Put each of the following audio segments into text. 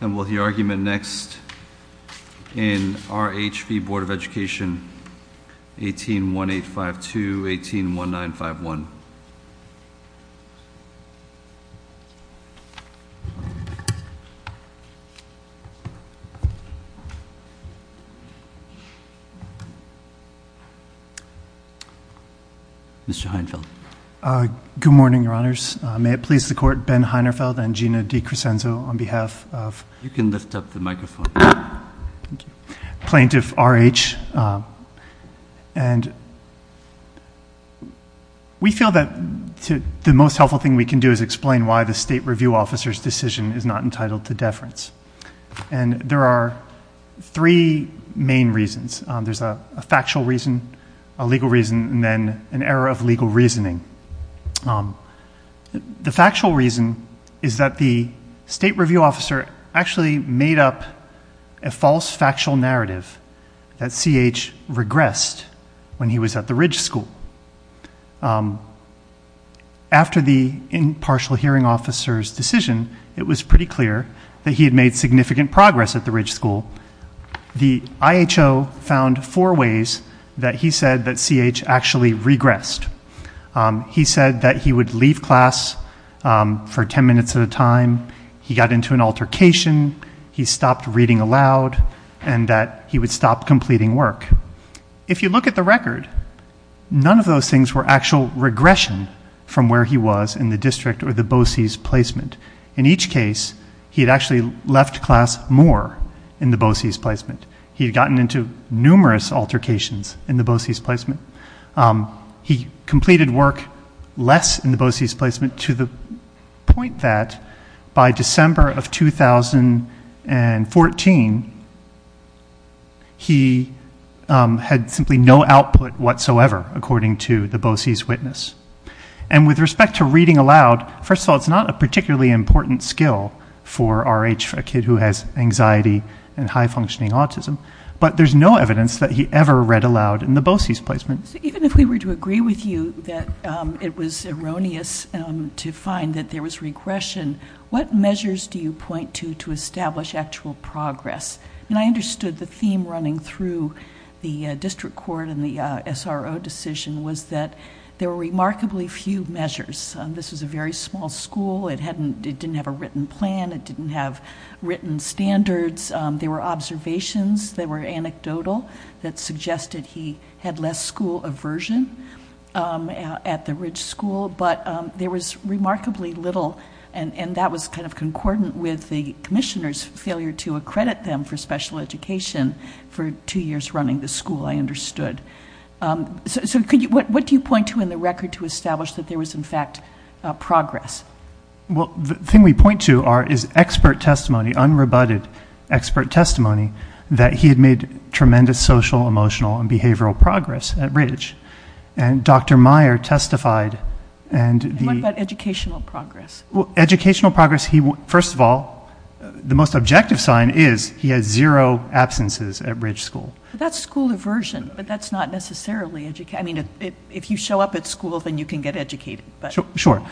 And we'll hear argument next in R.H. v. Board of Education, 18-1852, 18-1951. Good morning, Your Honors. May it please the Court, Ben Heinerfeld and Gina DiCresenzo on behalf of Plaintiff R.H. And we feel that the most helpful thing we can do is explain why the State Review Officer's decision is not entitled to deference. And there are three main reasons. There's a factual reason, a legal reason, and then an error of legal reasoning. The factual reason is that the State Review Officer actually made up a false factual narrative that C.H. regressed when he was at the Ridge School. After the impartial hearing officer's decision, it was pretty clear that he had made significant progress at the Ridge School. The I.H.O. found four ways that he said that C.H. actually regressed. He said that he would leave class for ten minutes at a time, he got into an altercation, he stopped reading aloud, and that he would stop completing work. If you look at the record, none of those things were actual regression from where he was in the district or the BOCES placement. In each case, he had actually left class more in the BOCES placement. He had gotten into numerous altercations in the BOCES placement. He completed work less in the BOCES placement to the point that by December of 2014, he had simply no output whatsoever, according to the BOCES witness. And with respect to reading aloud, first of all, it's not a particularly important skill for R.H., for a kid who has anxiety and high-functioning autism. But there's no evidence that he ever read aloud in the BOCES placement. Even if we were to agree with you that it was erroneous to find that there was regression, what measures do you point to to establish actual progress? And I understood the theme running through the district court and the SRO decision was that there were remarkably few measures. This was a very small school. It didn't have a written plan. It didn't have written standards. There were observations that were anecdotal that suggested he had less school aversion at the Ridge School. But there was remarkably little, and that was kind of concordant with the commissioner's failure to accredit them for special education for two years running the school, I understood. So what do you point to in the record to establish that there was, in fact, progress? Well, the thing we point to is expert testimony, unrebutted expert testimony that he had made tremendous social, emotional, and behavioral progress at Ridge. And Dr. Meyer testified. What about educational progress? Educational progress, first of all, the most objective sign is he has zero absences at Ridge School. That's school aversion, but that's not necessarily education. I mean, if you show up at school, then you can get educated. Sure.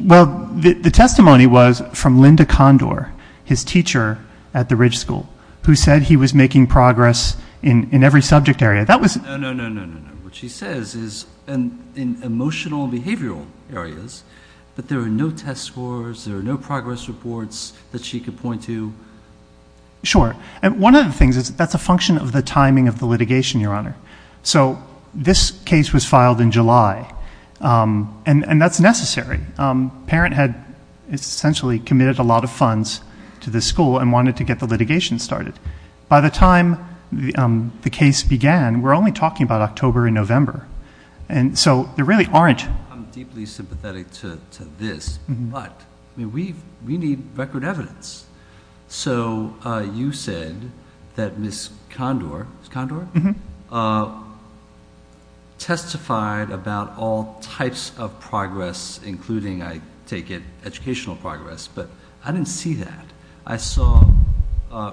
Well, the testimony was from Linda Condor, his teacher at the Ridge School, who said he was making progress in every subject area. No, no, no, no, no, no. What she says is in emotional and behavioral areas, that there are no test scores, there are no progress reports that she could point to. Sure. And one of the things is that's a function of the timing of the litigation, Your Honor. So this case was filed in July, and that's necessary. The parent had essentially committed a lot of funds to the school and wanted to get the litigation started. By the time the case began, we're only talking about October and November. And so there really aren't – I'm deeply sympathetic to this, but we need record evidence. So you said that Ms. Condor testified about all types of progress, including, I take it, educational progress. But I didn't see that. I saw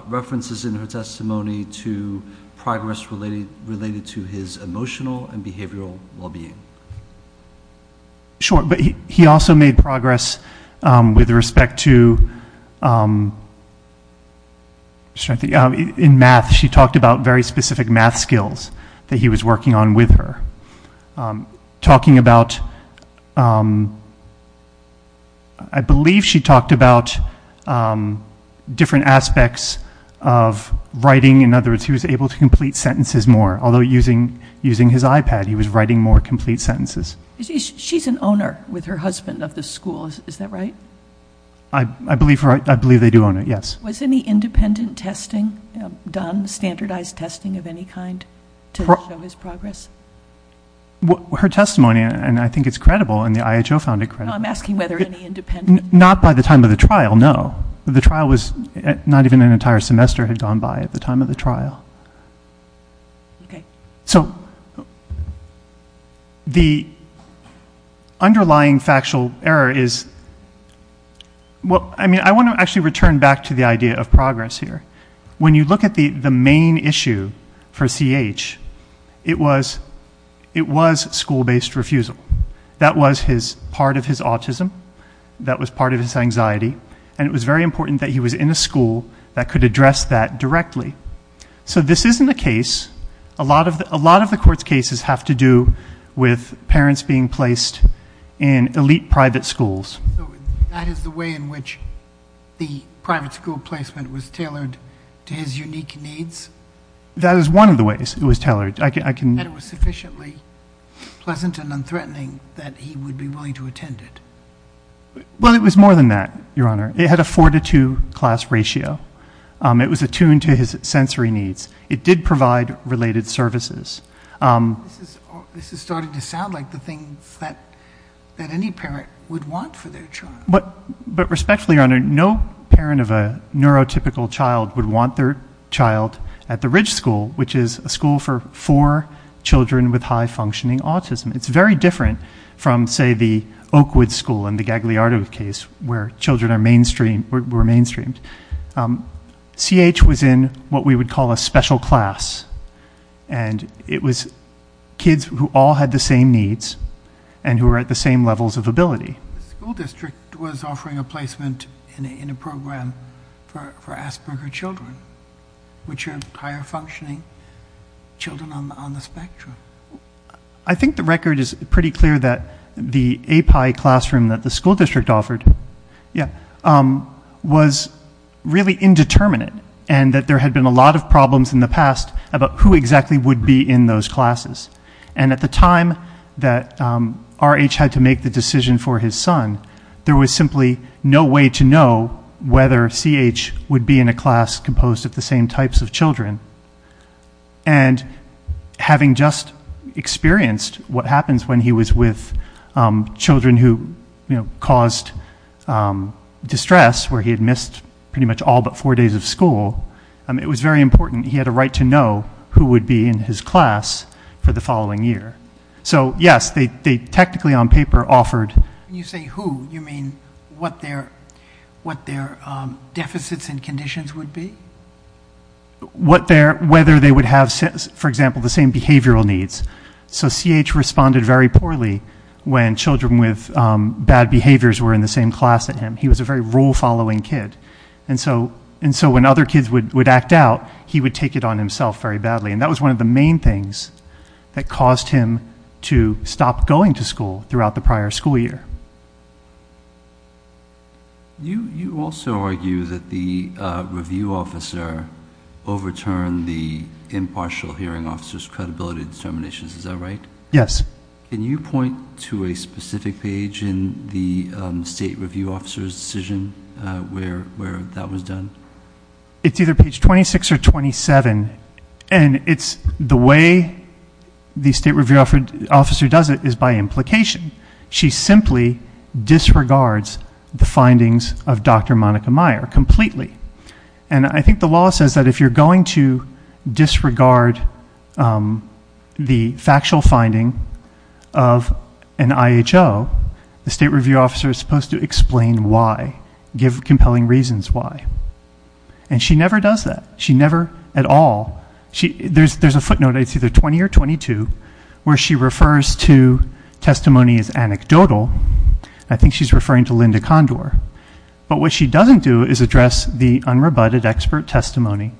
references in her testimony to progress related to his emotional and behavioral well-being. Sure. But he also made progress with respect to – in math, she talked about very specific math skills that he was working on with her. Talking about – I believe she talked about different aspects of writing. In other words, he was able to complete sentences more, although using his iPad, he was writing more complete sentences. She's an owner with her husband of the school, is that right? I believe they do own it, yes. Was any independent testing done, standardized testing of any kind, to show his progress? Her testimony – and I think it's credible, and the IHO found it credible. I'm asking whether any independent – Not by the time of the trial, no. The trial was – not even an entire semester had gone by at the time of the trial. Okay. So the underlying factual error is – well, I mean, I want to actually return back to the idea of progress here. When you look at the main issue for C.H., it was school-based refusal. That was part of his autism. That was part of his anxiety. And it was very important that he was in a school that could address that directly. So this isn't a case – a lot of the court's cases have to do with parents being placed in elite private schools. So that is the way in which the private school placement was tailored to his unique needs? That is one of the ways it was tailored. And it was sufficiently pleasant and unthreatening that he would be willing to attend it? Well, it was more than that, Your Honor. It had a four-to-two class ratio. It was attuned to his sensory needs. It did provide related services. This is starting to sound like the things that any parent would want for their child. But respectfully, Your Honor, no parent of a neurotypical child would want their child at the Ridge School, which is a school for four children with high-functioning autism. It's very different from, say, the Oakwood School in the Gagliardo case where children were mainstreamed. CH was in what we would call a special class, and it was kids who all had the same needs and who were at the same levels of ability. The school district was offering a placement in a program for Asperger children, which are higher-functioning children on the spectrum. I think the record is pretty clear that the API classroom that the school district offered was really indeterminate and that there had been a lot of problems in the past about who exactly would be in those classes. And at the time that RH had to make the decision for his son, there was simply no way to know whether CH would be in a class composed of the same types of children. And having just experienced what happens when he was with children who caused distress, where he had missed pretty much all but four days of school, it was very important he had a right to know who would be in his class for the following year. So, yes, they technically on paper offered... When you say who, you mean what their deficits and conditions would be? Whether they would have, for example, the same behavioral needs. So CH responded very poorly when children with bad behaviors were in the same class as him. He was a very rule-following kid. And so when other kids would act out, he would take it on himself very badly. And that was one of the main things that caused him to stop going to school throughout the prior school year. You also argue that the review officer overturned the impartial hearing officer's credibility determinations. Is that right? Yes. Can you point to a specific page in the state review officer's decision where that was done? It's either page 26 or 27. And it's the way the state review officer does it is by implication. She simply disregards the findings of Dr. Monica Meyer completely. And I think the law says that if you're going to disregard the factual finding of an IHO, the state review officer is supposed to explain why, give compelling reasons why. And she never does that. She never at all. There's a footnote. It's either 20 or 22 where she refers to testimony as anecdotal. I think she's referring to Linda Condor. But what she doesn't do is address the unrebutted expert testimony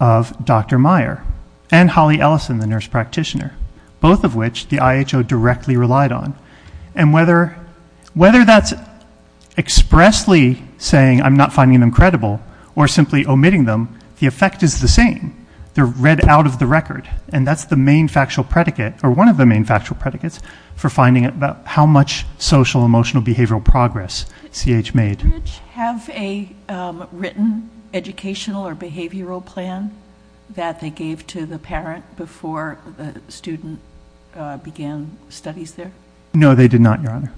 of Dr. Meyer and Holly Ellison, the nurse practitioner, both of which the IHO directly relied on. And whether that's expressly saying I'm not finding them credible or simply omitting them, the effect is the same. They're read out of the record. And that's the main factual predicate, or one of the main factual predicates, for finding out how much social-emotional-behavioral progress CH made. Did the research have a written educational or behavioral plan that they gave to the parent before the student began studies there? No, they did not, Your Honor.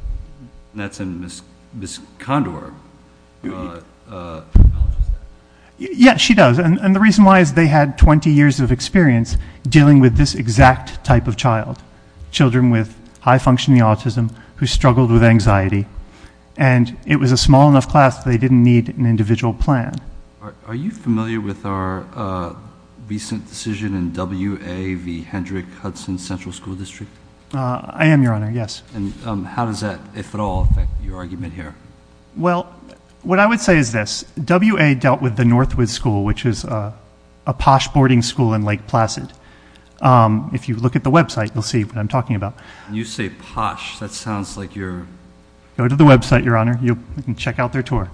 And that's in Ms. Condor. Yes, she does. And the reason why is they had 20 years of experience dealing with this exact type of child, children with high-functioning autism who struggled with anxiety. And it was a small enough class that they didn't need an individual plan. Are you familiar with our recent decision in WA v. Hendrick-Hudson Central School District? I am, Your Honor, yes. And how does that, if at all, affect your argument here? Well, what I would say is this. WA dealt with the Northwood School, which is a posh boarding school in Lake Placid. If you look at the website, you'll see what I'm talking about. You say posh. That sounds like you're going to the website, Your Honor. You can check out their tour.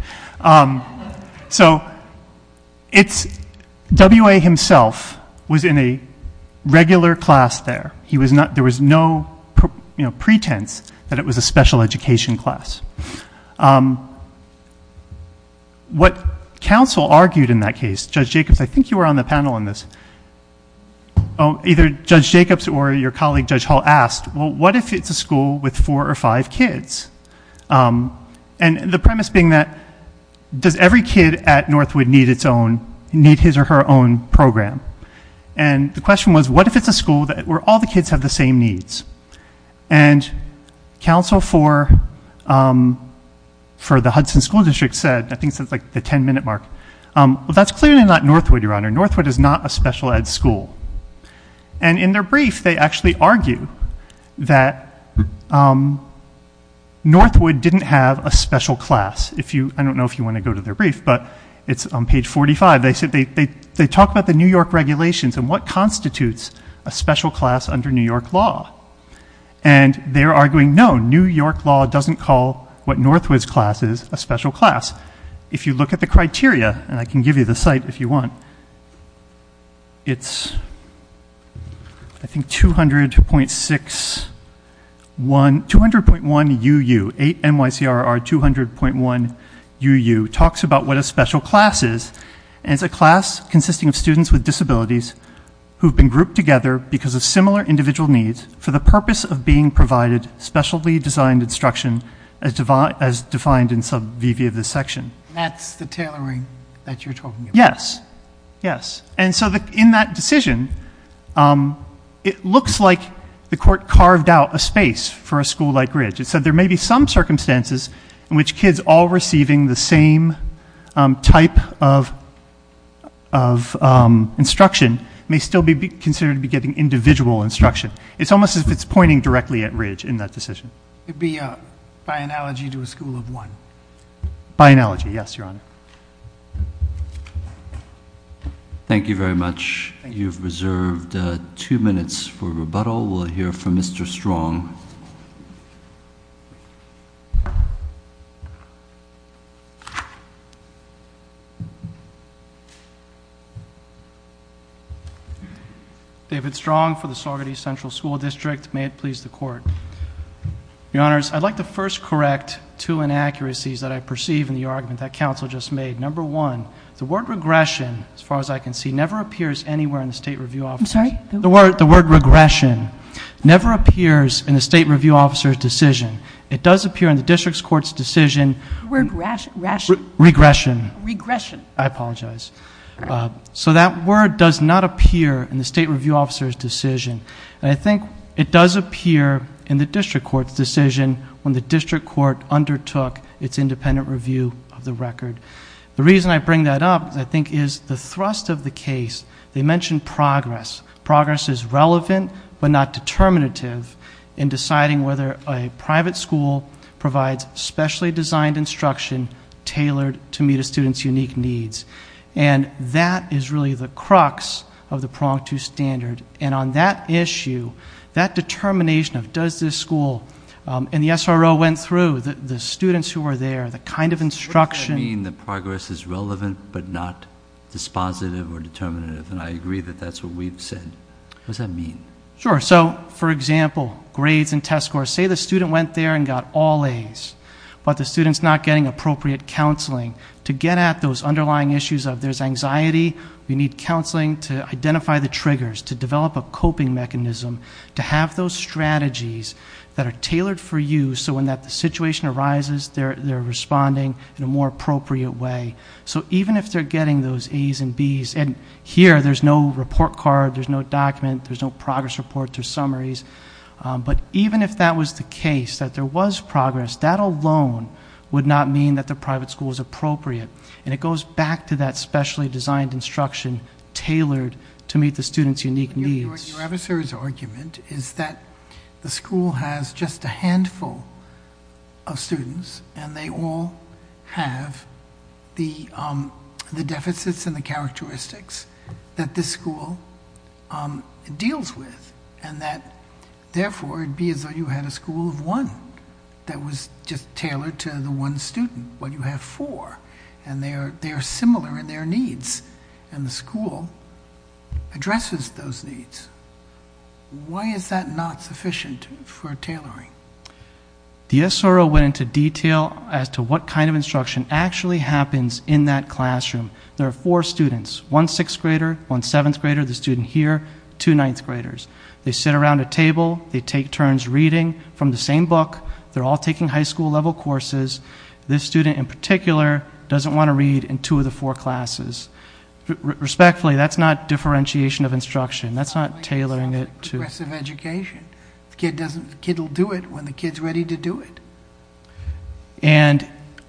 So WA himself was in a regular class there. There was no pretense that it was a special education class. What counsel argued in that case, Judge Jacobs, I think you were on the panel on this. Either Judge Jacobs or your colleague, Judge Hall, asked, well, what if it's a school with four or five kids? And the premise being that does every kid at Northwood need his or her own program? And the question was, what if it's a school where all the kids have the same needs? And counsel for the Hudson School District said, I think since like the ten-minute mark, well, that's clearly not Northwood, Your Honor. Northwood is not a special ed school. And in their brief, they actually argue that Northwood didn't have a special class. I don't know if you want to go to their brief, but it's on page 45. They talk about the New York regulations and what constitutes a special class under New York law. And they're arguing, no, New York law doesn't call what Northwood's class is a special class. If you look at the criteria, and I can give you the site if you want, it's, I think, 200.6, 200.1UU, 8NYCRR 200.1UU, talks about what a special class is. And it's a class consisting of students with disabilities who have been grouped together because of similar individual needs for the purpose of being provided specially designed instruction as defined in sub VV of this section. That's the tailoring that you're talking about? Yes, yes. And so in that decision, it looks like the court carved out a space for a school like Ridge. It said there may be some circumstances in which kids all receiving the same type of instruction may still be considered to be getting individual instruction. It's almost as if it's pointing directly at Ridge in that decision. It would be by analogy to a school of one? By analogy, yes, Your Honor. Thank you very much. You've reserved two minutes for rebuttal. We'll hear from Mr. Strong. David Strong for the Saugerty Central School District. May it please the Court. Your Honors, I'd like to first correct two inaccuracies that I perceive in the argument that counsel just made. Number one, the word regression, as far as I can see, never appears anywhere in the state review officer's decision. I'm sorry? The word regression never appears in the state review officer's decision. It does appear in the district court's decision. The word ration. Regression. Regression. I apologize. So that word does not appear in the state review officer's decision. And I think it does appear in the district court's decision when the district court undertook its independent review of the record. The reason I bring that up, I think, is the thrust of the case. They mention progress. Progress is relevant but not determinative in deciding whether a private school provides specially designed instruction tailored to meet a student's unique needs. And that is really the crux of the prong to standard. And on that issue, that determination of does this school and the SRO went through, the students who were there, the kind of instruction. What does that mean that progress is relevant but not dispositive or determinative? And I agree that that's what we've said. What does that mean? Sure. So, for example, grades and test scores. Say the student went there and got all As, but the student's not getting appropriate counseling. To get at those underlying issues of there's anxiety, we need counseling to identify the triggers, to develop a coping mechanism, to have those strategies that are tailored for you so when that situation arises, they're responding in a more appropriate way. So even if they're getting those As and Bs, and here there's no report card, there's no document, there's no progress reports or summaries, but even if that was the case, that there was progress, that alone would not mean that the private school was appropriate. And it goes back to that specially designed instruction tailored to meet the student's unique needs. Your adversary's argument is that the school has just a handful of students and they all have the deficits and the characteristics that this school deals with and that, therefore, it would be as though you had a school of one that was just tailored to the one student, but you have four, and they are similar in their needs, and the school addresses those needs. Why is that not sufficient for tailoring? Dia Soro went into detail as to what kind of instruction actually happens in that classroom. There are four students, one 6th grader, one 7th grader, the student here, two 9th graders. They sit around a table. They take turns reading from the same book. They're all taking high school level courses. This student in particular doesn't want to read in two of the four classes. Respectfully, that's not differentiation of instruction. That's not tailoring it to progressive education. The kid will do it when the kid's ready to do it. And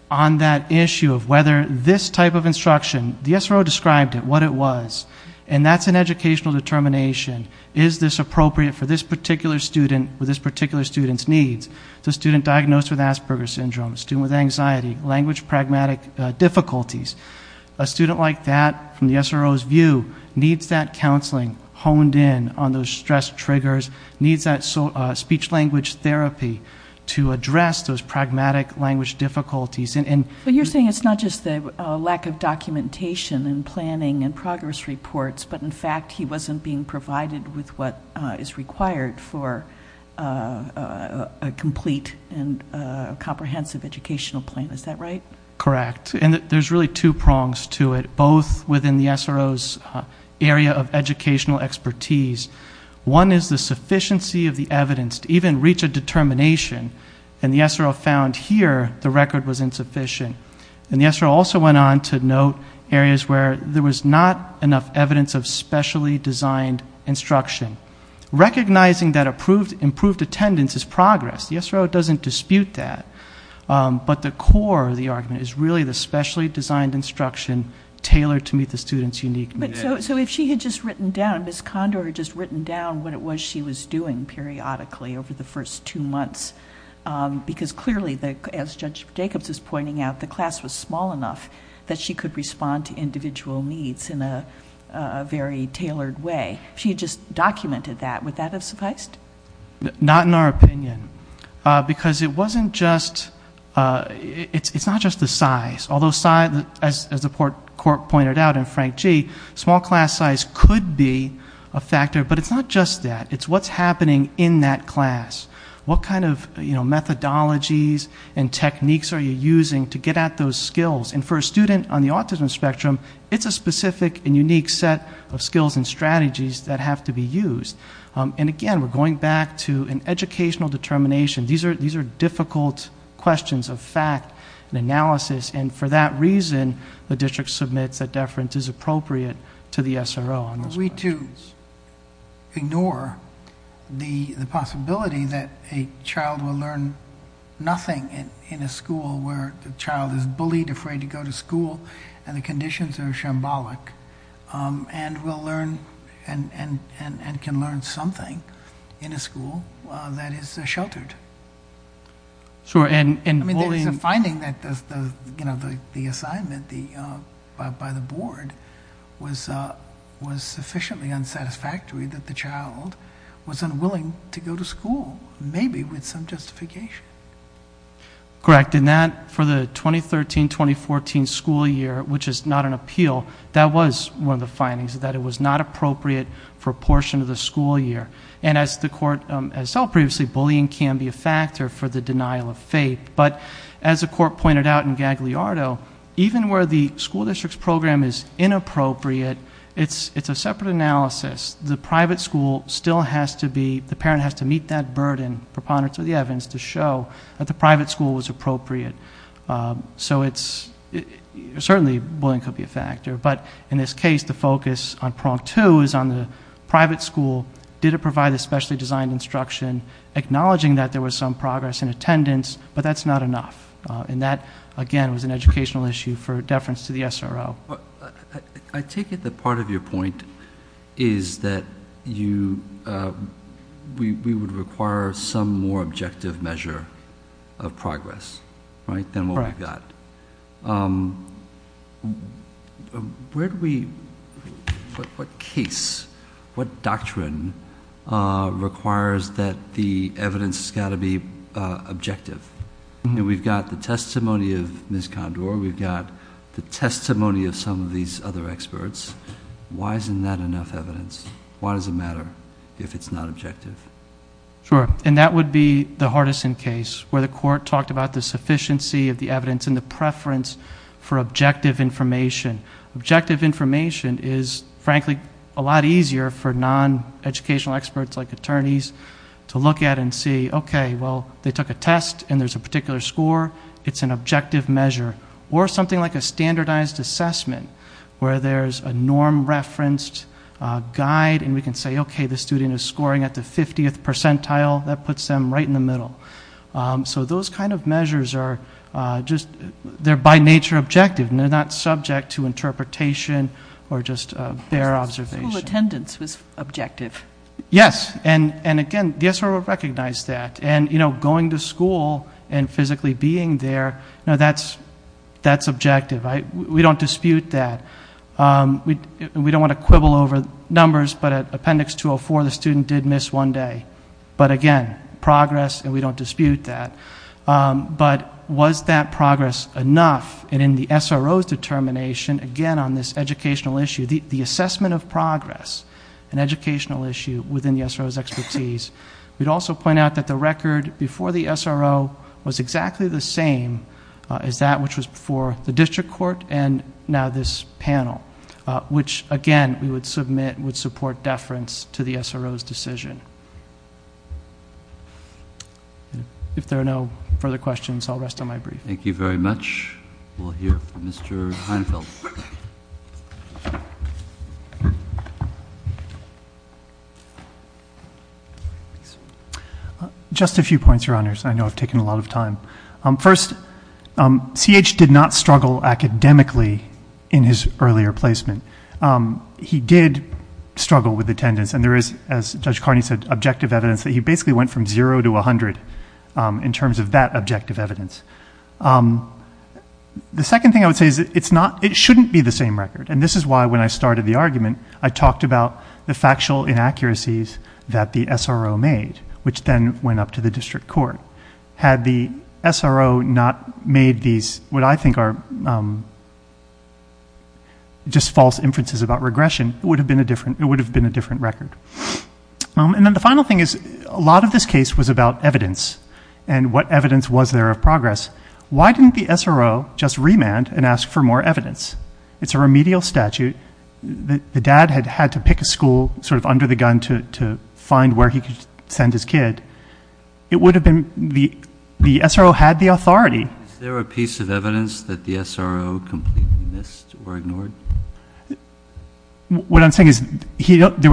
on that issue of whether this type of instruction, Dia Soro described it, what it was, and that's an educational determination. Is this appropriate for this particular student with this particular student's needs? The student diagnosed with Asperger's syndrome, the student with anxiety, language-pragmatic difficulties, a student like that, from Dia Soro's view, needs that counseling honed in on those stress triggers, needs that speech-language therapy to address those pragmatic language difficulties. But you're saying it's not just the lack of documentation and planning and progress reports, but in fact he wasn't being provided with what is required for a complete and comprehensive educational plan. Is that right? Correct. And there's really two prongs to it, both within Dia Soro's area of educational expertise. One is the sufficiency of the evidence to even reach a determination, and Dia Soro found here the record was insufficient. And Dia Soro also went on to note areas where there was not enough evidence of specially designed instruction. Recognizing that improved attendance is progress. Dia Soro doesn't dispute that. But the core of the argument is really the specially designed instruction tailored to meet the student's unique needs. So if she had just written down, Ms. Condor had just written down what it was she was doing periodically over the first two months, because clearly, as Judge Jacobs was pointing out, the class was small enough that she could respond to individual needs in a very tailored way. If she had just documented that, would that have sufficed? Not in our opinion, because it wasn't just the size. Although, as the court pointed out in Frank G., small class size could be a factor, but it's not just that. It's what's happening in that class. What kind of methodologies and techniques are you using to get at those skills? And for a student on the autism spectrum, it's a specific and unique set of skills and strategies that have to be used. Again, we're going back to an educational determination. These are difficult questions of fact and analysis, and for that reason, the district submits that deference is appropriate to the SRO on those questions. Are we to ignore the possibility that a child will learn nothing in a school where the child is bullied, afraid to go to school, and the conditions are shambolic, and can learn something in a school that is sheltered? I mean, there's a finding that the assignment by the board was sufficiently unsatisfactory that the child was unwilling to go to school, maybe with some justification. Correct. And that, for the 2013-2014 school year, which is not an appeal, that was one of the findings, that it was not appropriate for a portion of the school year. And as the court has told previously, bullying can be a factor for the denial of faith. But as the court pointed out in Gagliardo, even where the school district's program is inappropriate, it's a separate analysis. The private school still has to be the parent has to meet that burden, and proponents of the evidence to show that the private school was appropriate. So it's certainly bullying could be a factor. But in this case, the focus on prong two is on the private school. Did it provide the specially designed instruction, acknowledging that there was some progress in attendance, but that's not enough. And that, again, was an educational issue for deference to the SRO. I take it that part of your point is that we would require some more objective measure of progress than what we've got. Correct. What case, what doctrine requires that the evidence has got to be objective? We've got the testimony of Ms. Condor. We've got the testimony of some of these other experts. Why isn't that enough evidence? Why does it matter if it's not objective? Sure, and that would be the Hardison case, where the court talked about the sufficiency of the evidence and the preference for objective information. Objective information is, frankly, a lot easier for non-educational experts like attorneys to look at and see, okay, well, they took a test, and there's a particular score. It's an objective measure. Or something like a standardized assessment, where there's a norm referenced guide, and we can say, okay, the student is scoring at the 50th percentile. That puts them right in the middle. So those kind of measures are just, they're by nature objective, and they're not subject to interpretation or just bare observation. School attendance was objective. Yes, and, again, the SRO recognized that. And, you know, going to school and physically being there, that's objective. We don't dispute that. We don't want to quibble over numbers, but at Appendix 204, the student did miss one day. But, again, progress, and we don't dispute that. But was that progress enough? And in the SRO's determination, again, on this educational issue, the assessment of progress, an educational issue within the SRO's expertise, we'd also point out that the record before the SRO was exactly the same as that which was before the district court and now this panel, which, again, we would submit would support deference to the SRO's decision. If there are no further questions, I'll rest on my brief. Thank you very much. We'll hear from Mr. Heinfeld. Just a few points, Your Honors. I know I've taken a lot of time. First, CH did not struggle academically in his earlier placement. He did struggle with attendance, and there is, as Judge Carney said, that he basically went from zero to 100 in terms of that objective evidence. The second thing I would say is it shouldn't be the same record, and this is why when I started the argument, I talked about the factual inaccuracies that the SRO made, which then went up to the district court. Had the SRO not made these, what I think are just false inferences about regression, it would have been a different record. And then the final thing is a lot of this case was about evidence and what evidence was there of progress. Why didn't the SRO just remand and ask for more evidence? It's a remedial statute. The dad had had to pick a school sort of under the gun to find where he could send his kid. It would have been the SRO had the authority. Is there a piece of evidence that the SRO completely missed or ignored? What I'm saying is there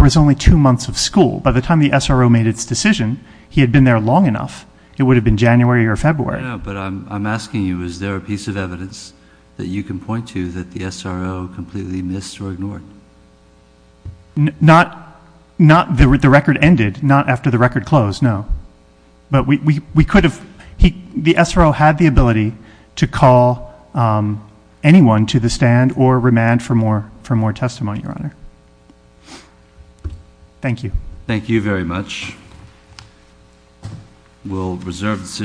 was only two months of school. By the time the SRO made its decision, he had been there long enough. It would have been January or February. But I'm asking you, is there a piece of evidence that you can point to that the SRO completely missed or ignored? Not the record ended, not after the record closed, no. The SRO had the ability to call anyone to the stand or remand for more testimony, Your Honor. Thank you. Thank you very much. We'll reserve the decision.